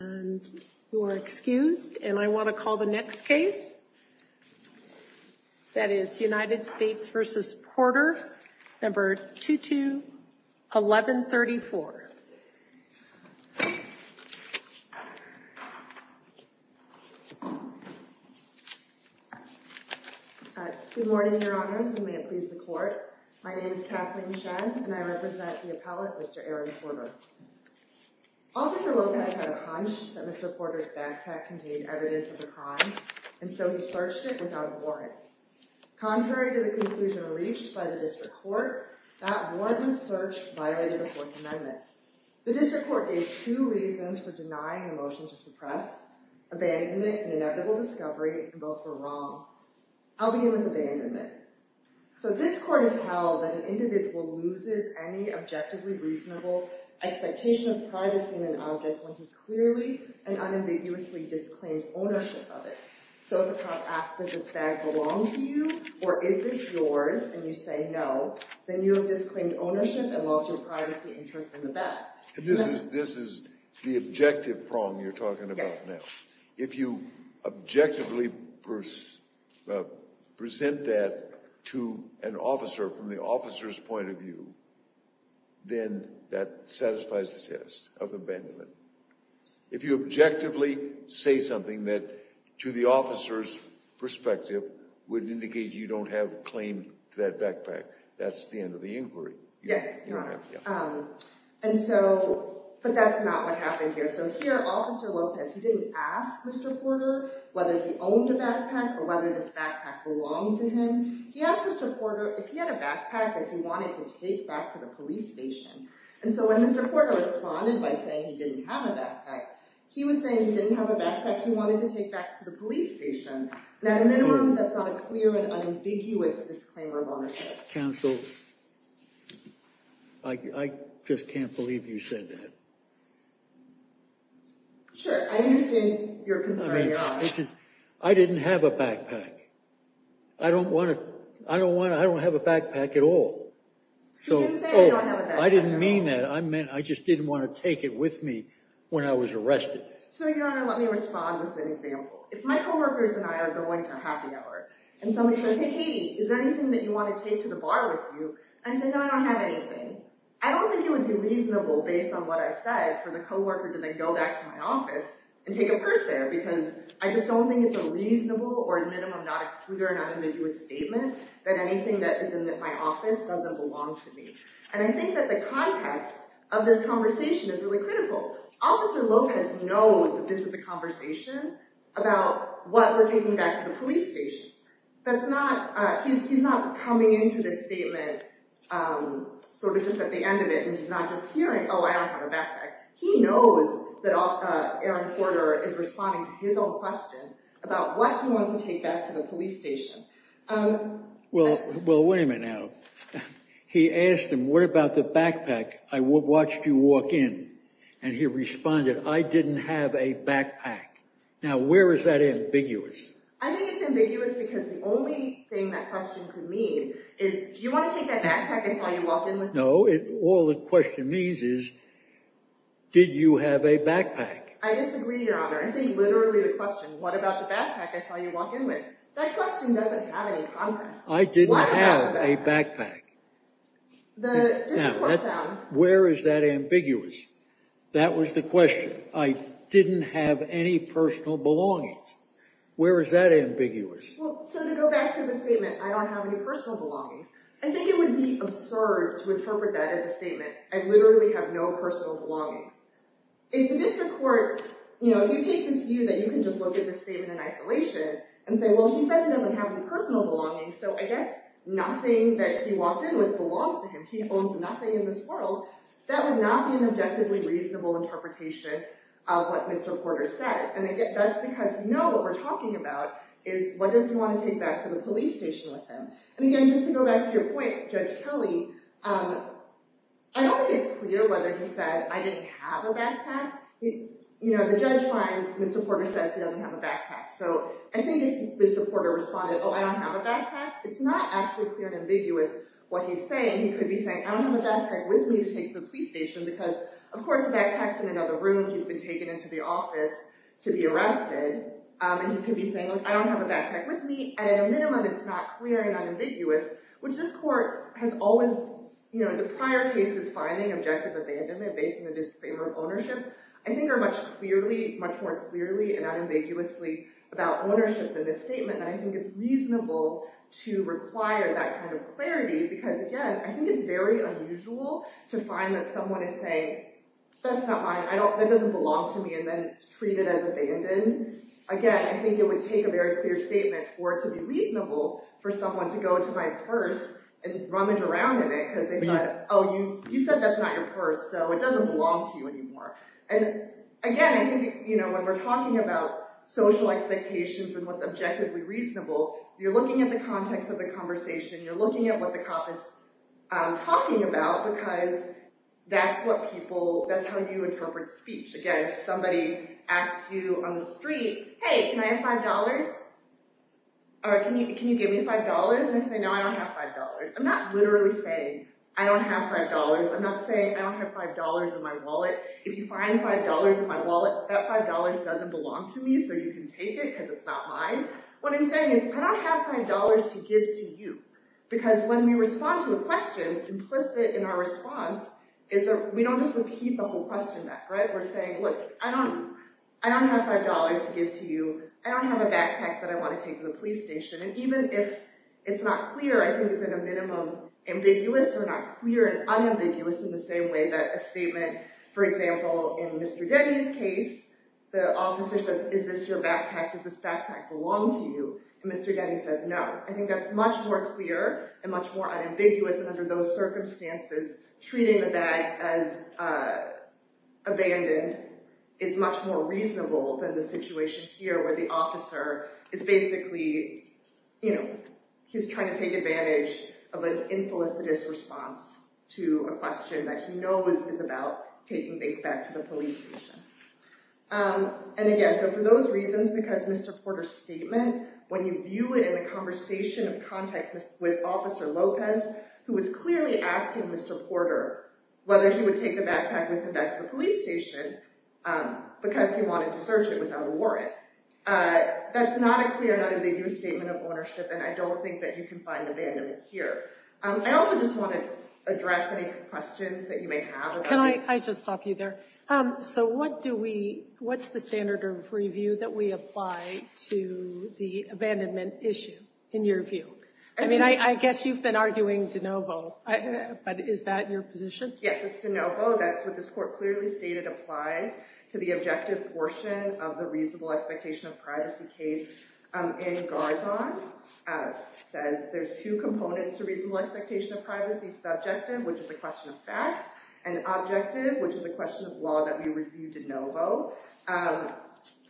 and you are excused. And I want to call the next case. That is United States v. Porter, No. 221134. Good morning, Your Honors, and may it please the Court. My name is Kathleen Shen and I represent the appellate, Mr. Aaron Porter. Officer Lopez had a hunch that Mr. Porter's backpack contained evidence of the crime, and so he searched it without a warrant. Contrary to the conclusion reached by the District Court, that warrantless search violated the Fourth Amendment. The District Court gave two reasons for denying the motion to suppress, abandonment and inevitable discovery, and both were wrong. I'll begin with abandonment. So this Court has held that an individual loses any objectively reasonable expectation of privacy in an object when he clearly and unambiguously disclaims ownership of it. So if a cop asks, does this bag belong to you, or is this yours, and you say no, then you have disclaimed ownership and lost your privacy interest in the bag. This is the objective prong you're talking about now. If you objectively present that to an officer from the officer's point of view, then that satisfies the test of abandonment. If you objectively say something that, to the officer's perspective, would indicate you don't have claim to that backpack, that's the end of the inquiry. Yes, Your Honor. And so, but that's not what happened here. So here, Officer Lopez, he didn't ask Mr. Porter whether he owned a backpack or whether this backpack belonged to him. He asked Mr. Porter if he had a backpack that he wanted to take back to the police station. And so when Mr. Porter responded by saying he didn't have a backpack, he was saying he didn't have a backpack he wanted to take back to the police station. And at a minimum, that's not a clear and unambiguous disclaimer of ownership. Counsel, I just can't believe you said that. Sure, I understand your concern, Your Honor. I didn't have a backpack. I don't have a backpack at all. You didn't say you don't have a backpack. I didn't mean that. I just didn't want to take it with me when I was arrested. So, Your Honor, let me respond with an example. If my co-workers and I are going to a happy hour and somebody says, hey, Katie, is there anything that you want to take to the bar with you? And I say, no, I don't have anything. I don't think it would be reasonable based on what I said for the co-worker to then go back to my office and take a purse there because I just don't think it's a reasonable or, at minimum, not a clear and unambiguous statement that anything that is in my office doesn't belong to me. And I think that the context of this conversation is really critical. Officer Lopez knows that this is a conversation about what we're taking back to the police station. He's not coming into this statement sort of just at the end of it He knows that Aaron Porter is responding to his own question about what he wants to take back to the police station. Well, wait a minute now. He asked him, what about the backpack? I watched you walk in. And he responded, I didn't have a backpack. Now, where is that ambiguous? I think it's ambiguous because the only thing that question could mean is, do you want to take that backpack I saw you walk in with? No. All the question means is, did you have a backpack? I disagree, Your Honor. I think literally the question, what about the backpack I saw you walk in with? That question doesn't have any context. I didn't have a backpack. Now, where is that ambiguous? That was the question. I didn't have any personal belongings. Where is that ambiguous? So to go back to the statement, I don't have any personal belongings, I think it would be absurd to interpret that as a statement. I literally have no personal belongings. If the district court, you know, if you take this view that you can just look at this statement in isolation and say, well, he says he doesn't have any personal belongings, so I guess nothing that he walked in with belongs to him. He owns nothing in this world. That would not be an objectively reasonable interpretation of what Mr. Porter said. And that's because we know what we're talking about is, what does he want to take back to the police station with him? And again, just to go back to your point, Judge Kelly, I don't think it's clear whether he said, I didn't have a backpack. You know, the judge finds Mr. Porter says he doesn't have a backpack. So I think if Mr. Porter responded, oh, I don't have a backpack, it's not actually clear and ambiguous what he's saying. He could be saying, I don't have a backpack with me to take to the police station, because of course the backpack's in another room. He's been taken into the office to be arrested. And he could be saying, look, I don't have a backpack with me. And at a minimum, it's not clear and unambiguous, which this court has always, you know, the prior cases finding objective abandonment based on the disfavor of ownership, I think are much clearly, much more clearly and unambiguously about ownership in this statement. And I think it's reasonable to require that kind of clarity, because again, I think it's very unusual to find that someone is saying, that's not mine. I don't, that doesn't belong to me. And then treat it as abandoned. And then again, I think it would take a very clear statement for it to be reasonable for someone to go into my purse and rummage around in it because they thought, oh, you said that's not your purse. So it doesn't belong to you anymore. And again, I think, you know, when we're talking about social expectations and what's objectively reasonable, you're looking at the context of the conversation. You're looking at what the cop is talking about, because that's what people, that's how you interpret speech. Again, if somebody asks you on the street, hey, can I have $5? Or can you, can you give me $5? And I say, no, I don't have $5. I'm not literally saying I don't have $5. I'm not saying I don't have $5 in my wallet. If you find $5 in my wallet, that $5 doesn't belong to me so you can take it because it's not mine. What I'm saying is, I don't have $5 to give to you. Because when we respond to a question, implicit in our response is that we don't just repeat the whole question back, right? We're saying, look, I don't, I don't have $5 to give to you. I don't have a backpack that I want to take to the police station. And even if it's not clear, I think it's at a minimum ambiguous or not clear and unambiguous in the same way that a statement, for example, in Mr. Denny's case, the officer says, is this your backpack? Does this backpack belong to you? And Mr. Denny says, no, I think that's much more clear and much more unambiguous. And under those circumstances, treating the bag as abandoned is much more reasonable than the situation here where the officer is basically, you know, he's trying to take advantage of an infelicitous response to a question that he knows is about taking things back to the police station. And again, so for those reasons, because Mr. Porter's statement, when you view it in the conversation of context with Officer Lopez, who was clearly asking Mr. Porter whether he would take the backpack with him back to the police station because he wanted to search it without a warrant. That's not a clear and unambiguous statement of ownership. And I don't think that you can find abandonment here. I also just want to address any questions that you may have. Can I just stop you there? So what do we, what's the standard of review that we apply to the abandonment issue in your view? I mean, I guess you've been arguing DeNovo, but is that your position? Yes, it's DeNovo. That's what this court clearly stated applies to the objective portion of the reasonable expectation of privacy case in Garzon. It says there's two components to reasonable expectation of privacy, subjective, which is a question of fact, and objective, which is a question of law that we review DeNovo.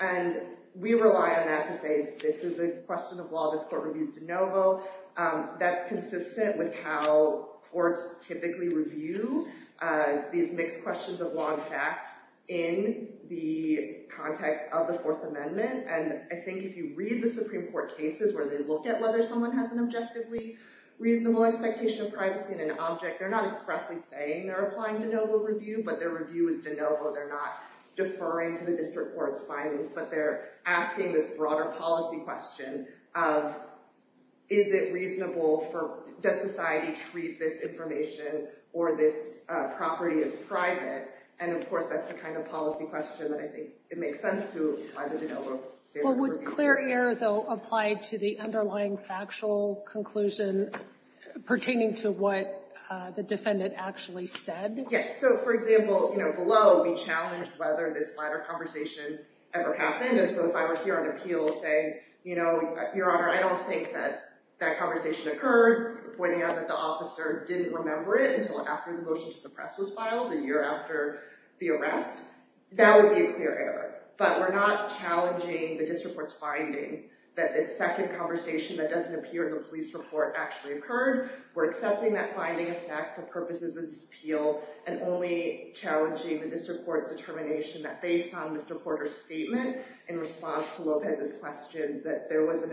And we rely on that to say, this is a question of law. This court reviews DeNovo. That's consistent with how courts typically review these mixed questions of law and fact in the context of the Fourth Amendment. And I think if you read the Supreme Court cases where they look at whether someone has an objectively reasonable expectation of privacy and an object, they're not expressly saying they're applying DeNovo review, but their review is DeNovo. They're not deferring to the district court's findings, but they're asking this broader policy question of, is it reasonable for, does society treat this information or this property as private? And of course, that's the kind of policy question that I think it makes sense to apply the DeNovo standard review. Would clear error, though, apply to the underlying factual conclusion pertaining to what the defendant actually said? Yes. So, for example, you know, whether this conversation ever happened. And so if I were here on appeal to say, you know, Your Honor, I don't think that that conversation occurred, pointing out that the officer didn't remember it until after the motion to suppress was filed a year after the arrest. That would be a clear error, but we're not challenging the district court's findings that this second conversation that doesn't appear in the police report actually occurred. We're accepting that finding effect for purposes of this appeal and only challenging the district court's determination that based on Mr. Porter's statement in response to Lopez's question, that there was an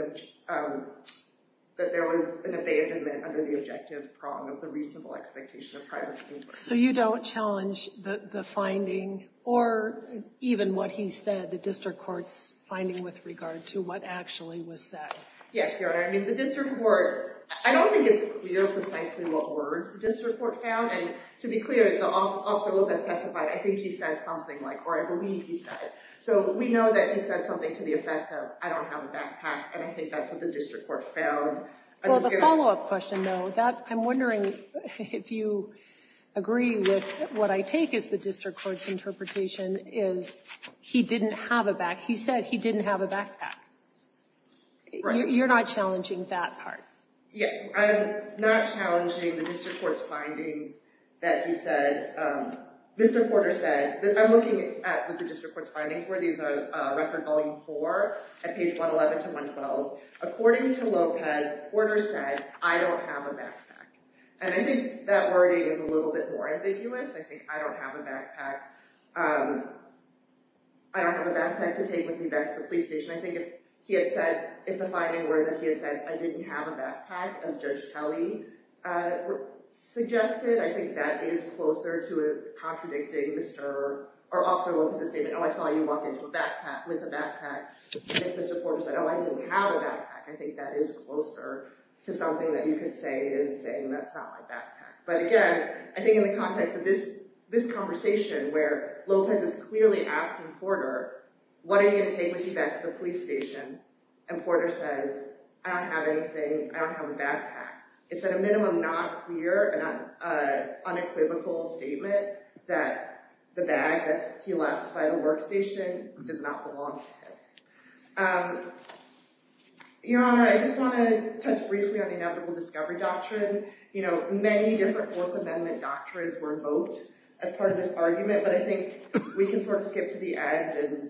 abandonment under the objective prong of the reasonable expectation of privacy. So you don't challenge the finding or even what he said, the district court's finding with regard to what actually was said. Yes, Your Honor. I mean, the district court, I don't think it's clear precisely what words the district court found. And to be clear, the officer Lopez testified, I think he said something like, or I believe he said. So we know that he said something to the effect of I don't have a backpack. And I think that's what the district court found. Well, the follow-up question though, that I'm wondering if you agree with what I take is the district court's interpretation is he didn't have a back. He said he didn't have a backpack. You're not challenging that part. Yes. I'm not challenging the district court's findings that he said. Mr. Porter said, I'm looking at what the district court's findings were. These are record volume four at page 111 to 112. According to Lopez, Porter said, I don't have a backpack. And I think that wording is a little bit more ambiguous. I think I don't have a backpack. I don't have a backpack to take with me back to the police station. I think if he had said, if the finding were that he had said I didn't have a backpack as judge Kelly suggested, I think that is closer to contradicting Mr. Or officer Lopez's statement. Oh, I saw you walk into a backpack with a backpack. And if Mr. Porter said, oh, I didn't have a backpack. I think that is closer to something that you could say is saying, that's not my backpack. But again, I think in the context of this, this conversation where Lopez is clearly asking Porter, what are you going to take with you back to the police station? And Porter says, I don't have anything. I don't have a backpack. It's at a minimum, not a clear and unequivocal statement that the bag that he left by the workstation does not belong to him. Your Honor, I just want to touch briefly on the inevitable discovery doctrine. You know, many different fourth amendment doctrines were invoked as part of this argument, but I think we can sort of skip to the end and,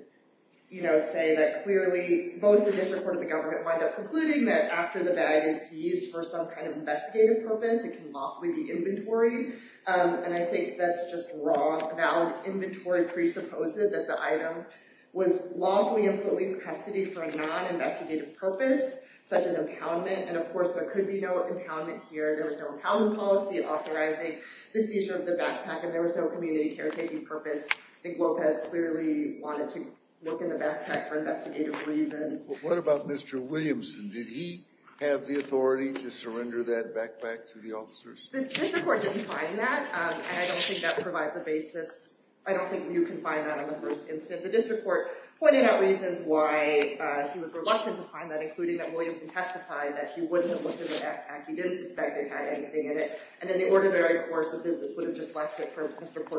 you know, say that clearly both the district court of the government wind up concluding that after the bag is used for some kind of investigative purpose, it can lawfully be inventory. And I think that's just wrong. Valid inventory presupposes that the item was lawfully in police custody for a non investigative purpose, such as impoundment. And of course there could be no impoundment here. There was no impoundment policy and authorizing the seizure of the bag for an investigative purpose. I think Lopez clearly wanted to look in the backpack for investigative reasons. What about Mr. Williamson? Did he have the authority to surrender that backpack to the officers? The district court didn't find that. And I don't think that provides a basis. I don't think you can find that on the first instance. The district court pointed out reasons why he was reluctant to find that, including that Williamson testified that he wouldn't have looked in the backpack. He didn't suspect it had anything in it. And then the ordinary course of business would have just left it for Mr.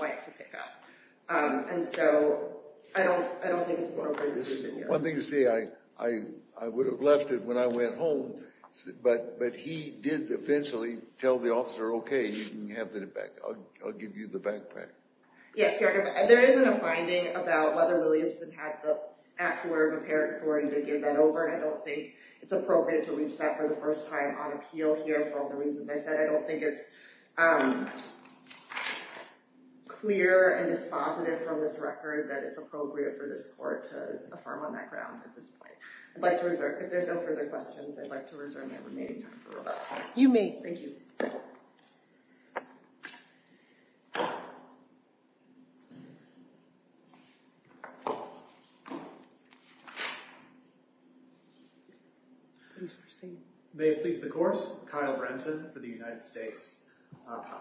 White to pick up. And so I don't think it's an appropriate decision here. One thing to say, I would have left it when I went home. But he did eventually tell the officer, OK, you can have the backpack. I'll give you the backpack. Yes, Your Honor. There isn't a finding about whether Williamson had the actual or prepared authority to give that over. And I don't think it's appropriate to reach that for the first time on appeal here for all the reasons I said. I don't think it's clear and dispositive from this record that it's appropriate for this court to affirm on that ground at this point. I'd like to reserve, if there's no further questions, I'd like to reserve my remaining time for rebuttal. You may. Thank you. Please proceed. May it please the court. Kyle Brenton for the United States.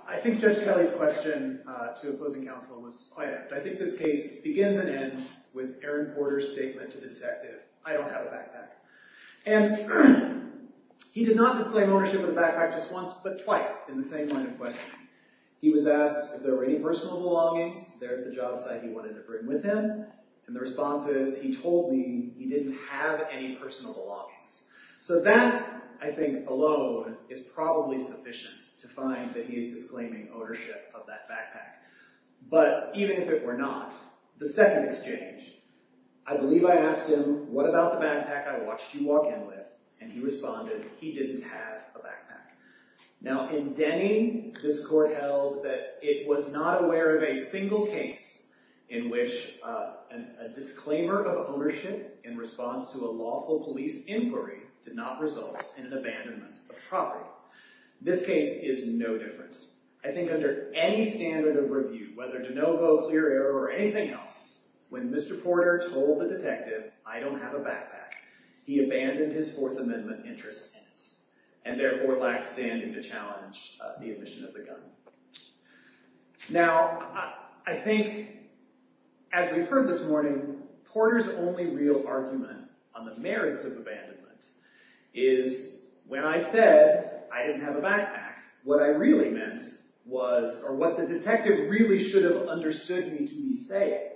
I think Judge Kelly's question to opposing counsel was quite apt. I think this case begins and ends with Aaron Porter's statement to the detective, I don't have a backpack. And he did not display an ownership of the backpack just once, but twice in the same line of questioning. He was asked if there were any personal belongings there at the job site he wanted to bring with him. And the response is, he told me he didn't have any personal belongings. So that, I think alone, is probably sufficient to find that he is disclaiming ownership of that backpack. But even if it were not, the second exchange, I believe I asked him, what about the backpack I watched you walk in with? And he responded, he didn't have a backpack. Now in Denny, this court held that it was not aware of a single case in which a disclaimer of ownership in response to a lawful police inquiry did not result in an abandonment of property. This case is no different. I think under any standard of review, whether de novo, clear error, or anything else, when Mr. Porter told the detective, I don't have a backpack, he abandoned his Fourth Amendment interest in it, and therefore lacked standing to challenge the admission of the gun. Now, I think, as we've heard this morning, Porter's only real argument on the merits of abandonment is, when I said I didn't have a backpack, what I really meant was, or what the detective really should have understood me to be saying,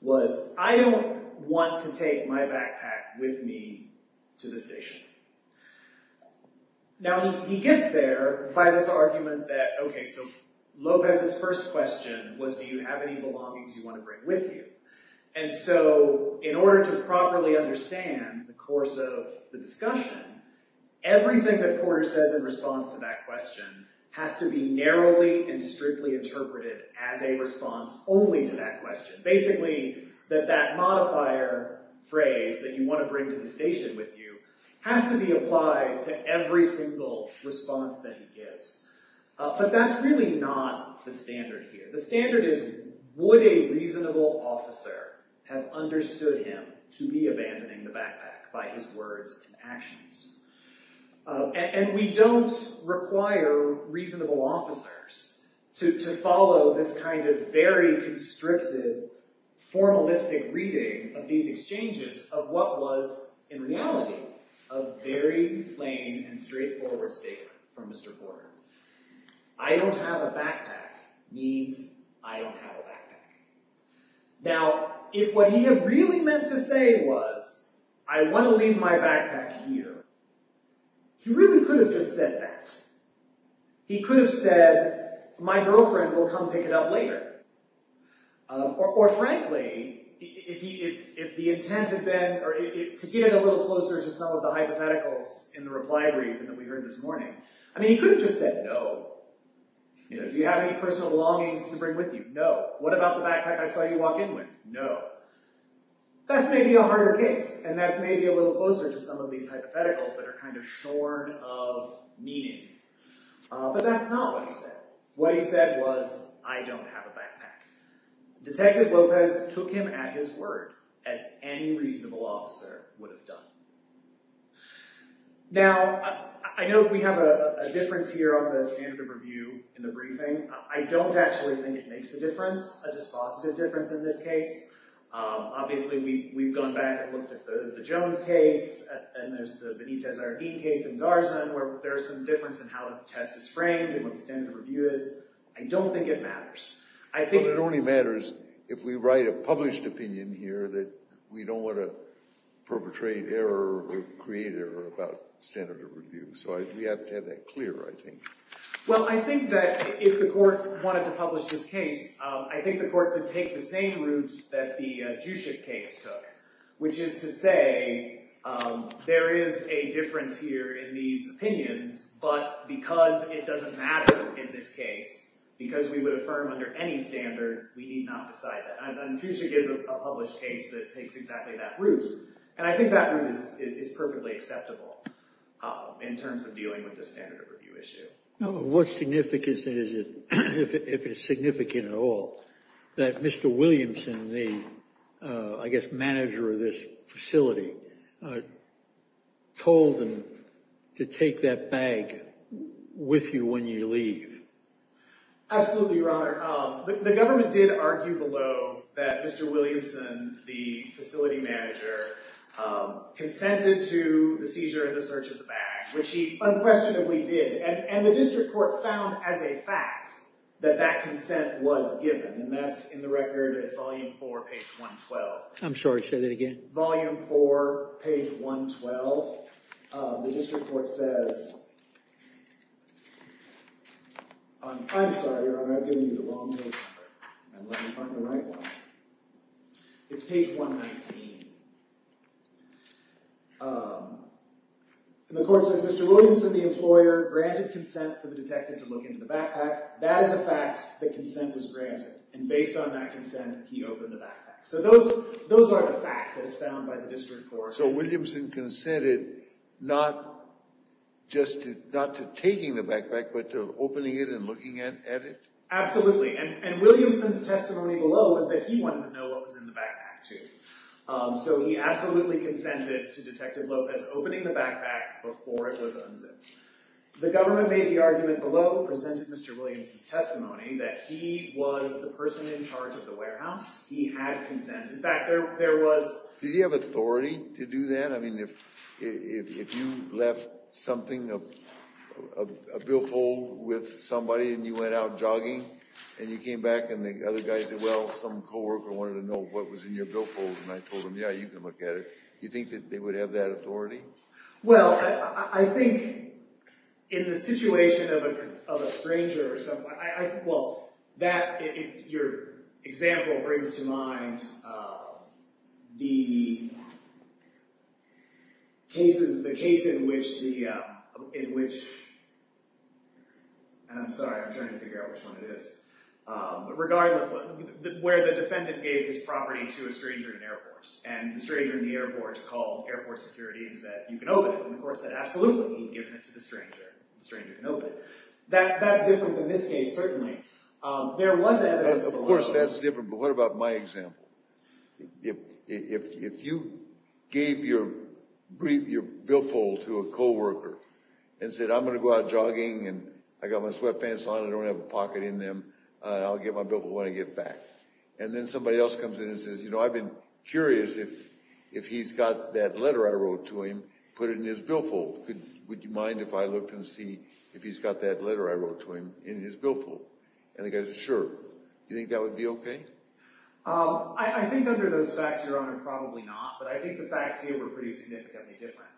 was, I don't want to take my backpack with me to the station. Now, he gets there by this argument that, okay, so Lopez's first question was, do you have any belongings you want to bring with you? And so, in order to properly understand the course of the discussion, everything that Porter says in response to that question has to be narrowly and strictly interpreted as a response only to that question. Basically, that that modifier phrase, that you want to bring to the station with you, has to be applied to every single response that he gives. But that's really not the standard here. The standard is, would a reasonable officer have understood him to be abandoning the backpack by his words and actions? And we don't require reasonable officers to follow this kind of very constricted, formalistic reading of these exchanges of what was, in reality, a very plain and straightforward statement from Mr. Porter. I don't have a backpack means I don't have a backpack. Now, if what he had really meant to say was, I want to leave my backpack here, he really could have just said that. He could have said, my girlfriend will come pick it up later. Or, frankly, if the intent had been to get a little closer to some of the hypotheticals in the reply brief that we heard this morning, I mean, he could have just said, no. Do you have any personal longings to bring with you? No. What about the backpack I saw you walk in with? No. That's maybe a harder case, and that's maybe a little closer to some of these hypotheticals that are kind of shorn of meaning. But that's not what he said. What he said was, I don't have a backpack. Detective Lopez took him at his word, as any reasonable officer would have done. Now, I know we have a difference here on the standard of review in the briefing. I don't actually think it makes a difference, a dispositive difference in this case. Obviously, we've gone back and looked at the Jones case, and there's the Benitez-Arnin case in Garza, where there's some difference in how the test is framed and what the standard of review is. I don't think it matters. Well, it only matters if we write a published opinion here that we don't want to perpetrate error or create error about standard of review. So we have to have that clear, I think. Well, I think that if the court wanted to publish this case, I think the court could take the same route that the Juscic case took, which is to say, there is a difference here in these opinions, but because it doesn't matter in this case, because we would affirm under any standard, we need not decide that. And Juscic is a published case that takes exactly that route. And I think that route is perfectly acceptable in terms of dealing with the standard of review issue. What significance is it, if it's significant at all, that Mr. Williamson, the, I guess, manager of this facility, told them to take that bag with you when you leave? Absolutely, Your Honor. The government did argue below that Mr. Williamson, the facility manager, consented to the seizure and the search of the bag, which he unquestionably did. And the district court found, as a fact, that that consent was given. And that's in the record at volume 4, page 112. I'm sorry, say that again. Volume 4, page 112. The district court says, I'm sorry, Your Honor, I've given you the wrong page number. Let me find the right one. It's page 119. And the court says, Mr. Williamson, the employer, granted consent for the detective to look into the backpack. That is a fact that consent was granted. And based on that consent, he opened the backpack. So those are the facts as found by the district court. So Williamson consented not just to taking the backpack, but to opening it and looking at it? Absolutely. And Williamson's testimony below was that he wanted to know what was in the backpack, too. So he absolutely consented to Detective Lopez opening the backpack before it was unzipped. The government made the argument below, presented Mr. Williamson's testimony, that he was the person in charge of the warehouse. He had consent. In fact, there was. Did he have authority to do that? I mean, if you left something, a billfold with somebody, and you went out jogging, and you came back, and the other guys said, well, some co-worker wanted to know what was in your billfold. And I told them, yeah, you can look at it. Do you think that they would have that authority? Well, I think in the situation of a stranger or someone, well, that, your example brings to mind the cases, the case in which the – and I'm sorry, I'm trying to figure out which one it is. Regardless, where the defendant gave his property to a stranger in an airport, and the stranger in the airport called airport security and said, you can open it. And the court said, absolutely. He'd given it to the stranger. The stranger can open it. That's different than this case, certainly. There was evidence of a lot of that. Of course, that's different. But what about my example? If you gave your billfold to a co-worker and said, I'm going to go out jogging, and I got my sweatpants on, I don't have a pocket in them, I'll get my billfold when I get back. And then somebody else comes in and says, you know, I've been curious if he's got that letter I wrote to him, put it in his billfold. Would you mind if I looked and see if he's got that letter I wrote to him in his billfold? And the guy says, sure. Do you think that would be okay? I think under those facts, Your Honor, probably not. But I think the facts here were pretty significantly different.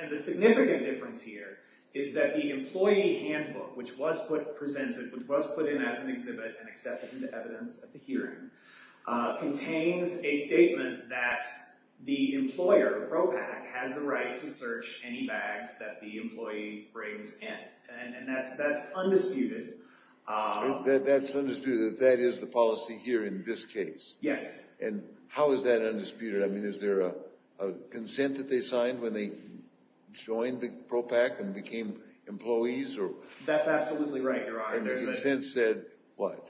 And the significant difference here is that the employee handbook, which was presented, which was put in as an exhibit and accepted into evidence at the hearing, contains a statement that the employer, PROPAC, has the right to search any bags that the employee brings in. And that's undisputed. That's undisputed. That is the policy here in this case. Yes. And how is that undisputed? I mean, is there a consent that they signed when they joined the PROPAC and became employees? That's absolutely right, Your Honor. And the consent said what?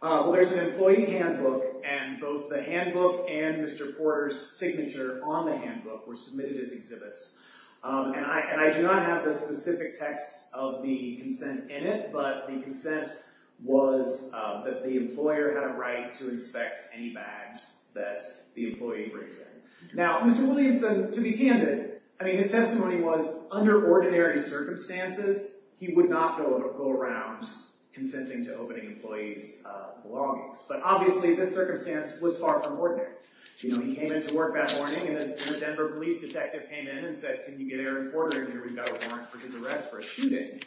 Well, there's an employee handbook, and both the handbook and Mr. Porter's signature on the handbook were submitted as exhibits. And I do not have the specific text of the consent in it, but the consent was that the employer had a right to inspect any bags that the employee brings in. Now, Mr. Williams, to be candid, I mean, his testimony was under ordinary circumstances, he would not go around consenting to opening employees' belongings. But obviously this circumstance was far from ordinary. You know, he came into work that morning, and the Denver police detective came in and said, can you get Aaron Porter in here? We've got a warrant for his arrest for shooting.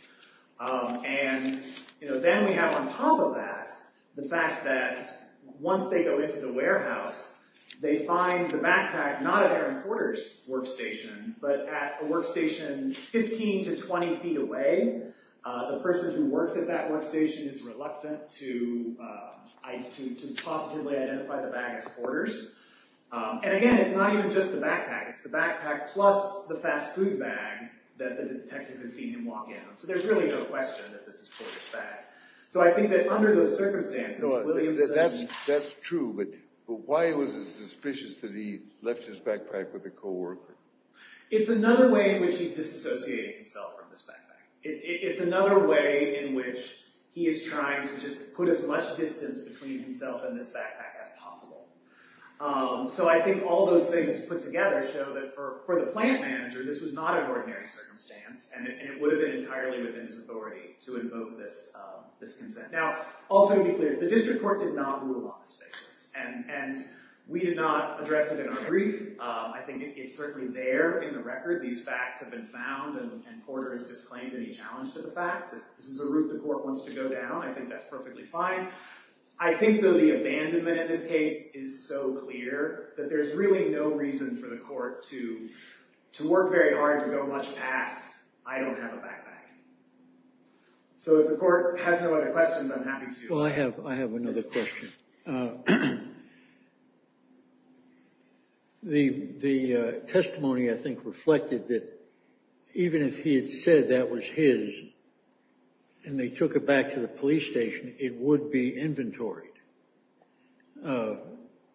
And, you know, then we have on top of that the fact that once they go into the warehouse, they find the backpack not at Aaron Porter's workstation, but at a workstation 15 to 20 feet away. The person who works at that workstation is reluctant to positively identify the bag as Porter's. And, again, it's not even just the backpack. It's the backpack plus the fast food bag that the detective has seen him walk in on. So there's really no question that this is Porter's bag. So I think that under those circumstances, That's true, but why was it suspicious that he left his backpack with a co-worker? It's another way in which he's disassociating himself from this backpack. It's another way in which he is trying to just put as much distance between himself and this backpack as possible. So I think all those things put together show that for the plant manager, this was not an ordinary circumstance, and it would have been entirely within his authority to invoke this consent. Now, also to be clear, the district court did not rule on this basis, and we did not address it in our brief. I think it's certainly there in the record. These facts have been found, and Porter has disclaimed any challenge to the facts. If this is the route the court wants to go down, I think that's perfectly fine. I think, though, the abandonment in this case is so clear that there's really no reason for the court to work very hard to go much past, I don't have a backpack. So if the court has no other questions, I'm happy to. Well, I have another question. The testimony, I think, reflected that even if he had said that was his and they took it back to the police station, it would be inventoried.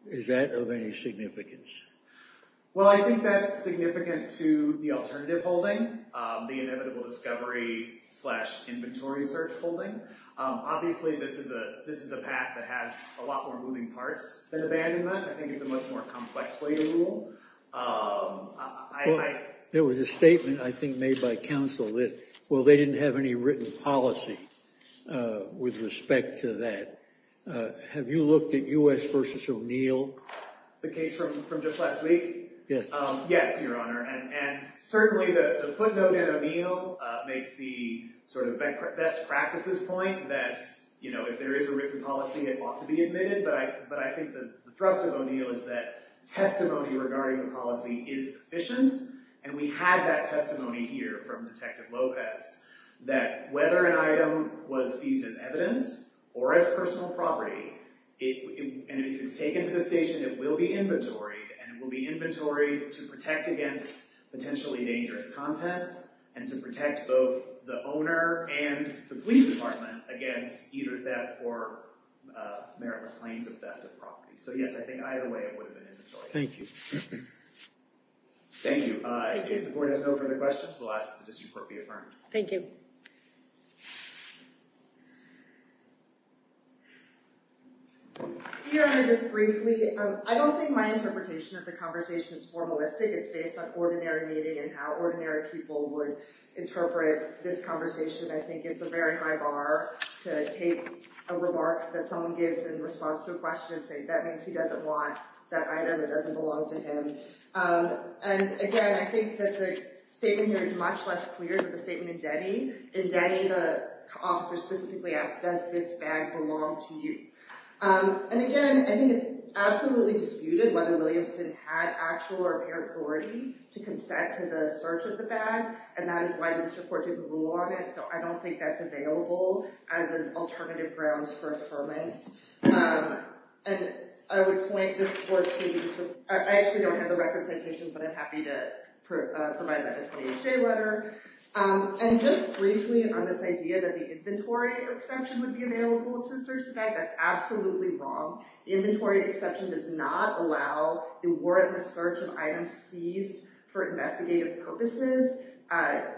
Is that of any significance? Well, I think that's significant to the alternative holding, the inevitable discovery slash inventory search holding. Obviously, this is a path that has a lot more moving parts than abandonment. I think it's a much more complex way to rule. There was a statement, I think, made by counsel that, well, they didn't have any written policy with respect to that. Have you looked at U.S. versus O'Neill? The case from just last week? Yes. Yes, Your Honor. And certainly the footnote in O'Neill makes the sort of best practices point that if there is a written policy, it ought to be admitted. But I think the thrust of O'Neill is that testimony regarding the policy is sufficient, and we had that testimony here from Detective Lopez that whether an item was seized as evidence or as personal property, and if it's taken to the station, it will be inventoried, and it will be inventoried to protect against potentially dangerous contents and to protect both the owner and the police department against either theft or meritless claims of theft of property. So, yes, I think either way it would have been inventoried. Thank you. Thank you. If the Court has no further questions, we'll ask that the district court be affirmed. Thank you. Your Honor, just briefly, I don't think my interpretation of the conversation is formalistic. It's based on ordinary meeting and how ordinary people would interpret this conversation. I think it's a very high bar to take a remark that someone gives in response to a question and say that means he doesn't want that item. It doesn't belong to him. And, again, I think that the statement here is much less clear than the statement in Denny. In Denny, the officer specifically asked, does this bag belong to you? And, again, I think it's absolutely disputed whether Williamson had actual or apparent authority to consent to the search of the bag, and that is why the district court took a rule on it. So I don't think that's available as an alternative grounds for affirmance. And I would point this Court to the district court. I actually don't have the record citation, but I'm happy to provide that in today's letter. And just briefly on this idea that the inventory exemption would be available to search the bag, that's absolutely wrong. The inventory exception does not allow the warrantless search of items seized for investigative purposes.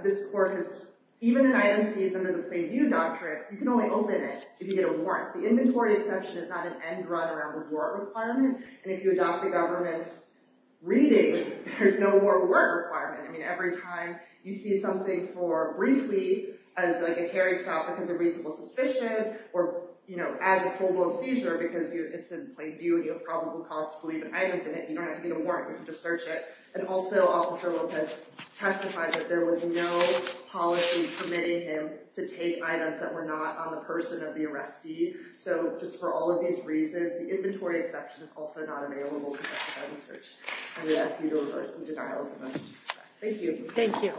This Court has even an item seized under the preview doctrine, you can only open it if you get a warrant. The inventory exception is not an end run around the warrant requirement, and if you adopt the government's reading, there's no more warrant requirement. I mean, every time you see something for briefly as, like, a tarry stop because of reasonable suspicion or, you know, as a full-blown seizure because it's in plain view and you have probable cause to believe in items in it, you don't have to get a warrant, you can just search it. And also, Officer Lopez testified that there was no policy permitting him to take items that were not on the person of the arrestee. So just for all of these reasons, the inventory exception is also not available to justify the search. I'm going to ask you to reverse the denial of evidence. Thank you. Thank you.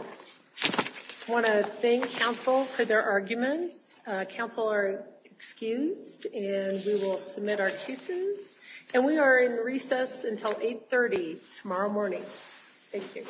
I want to thank counsel for their arguments. Counsel are excused and we will submit our cases. And we are in recess until 8.30 tomorrow morning. Thank you.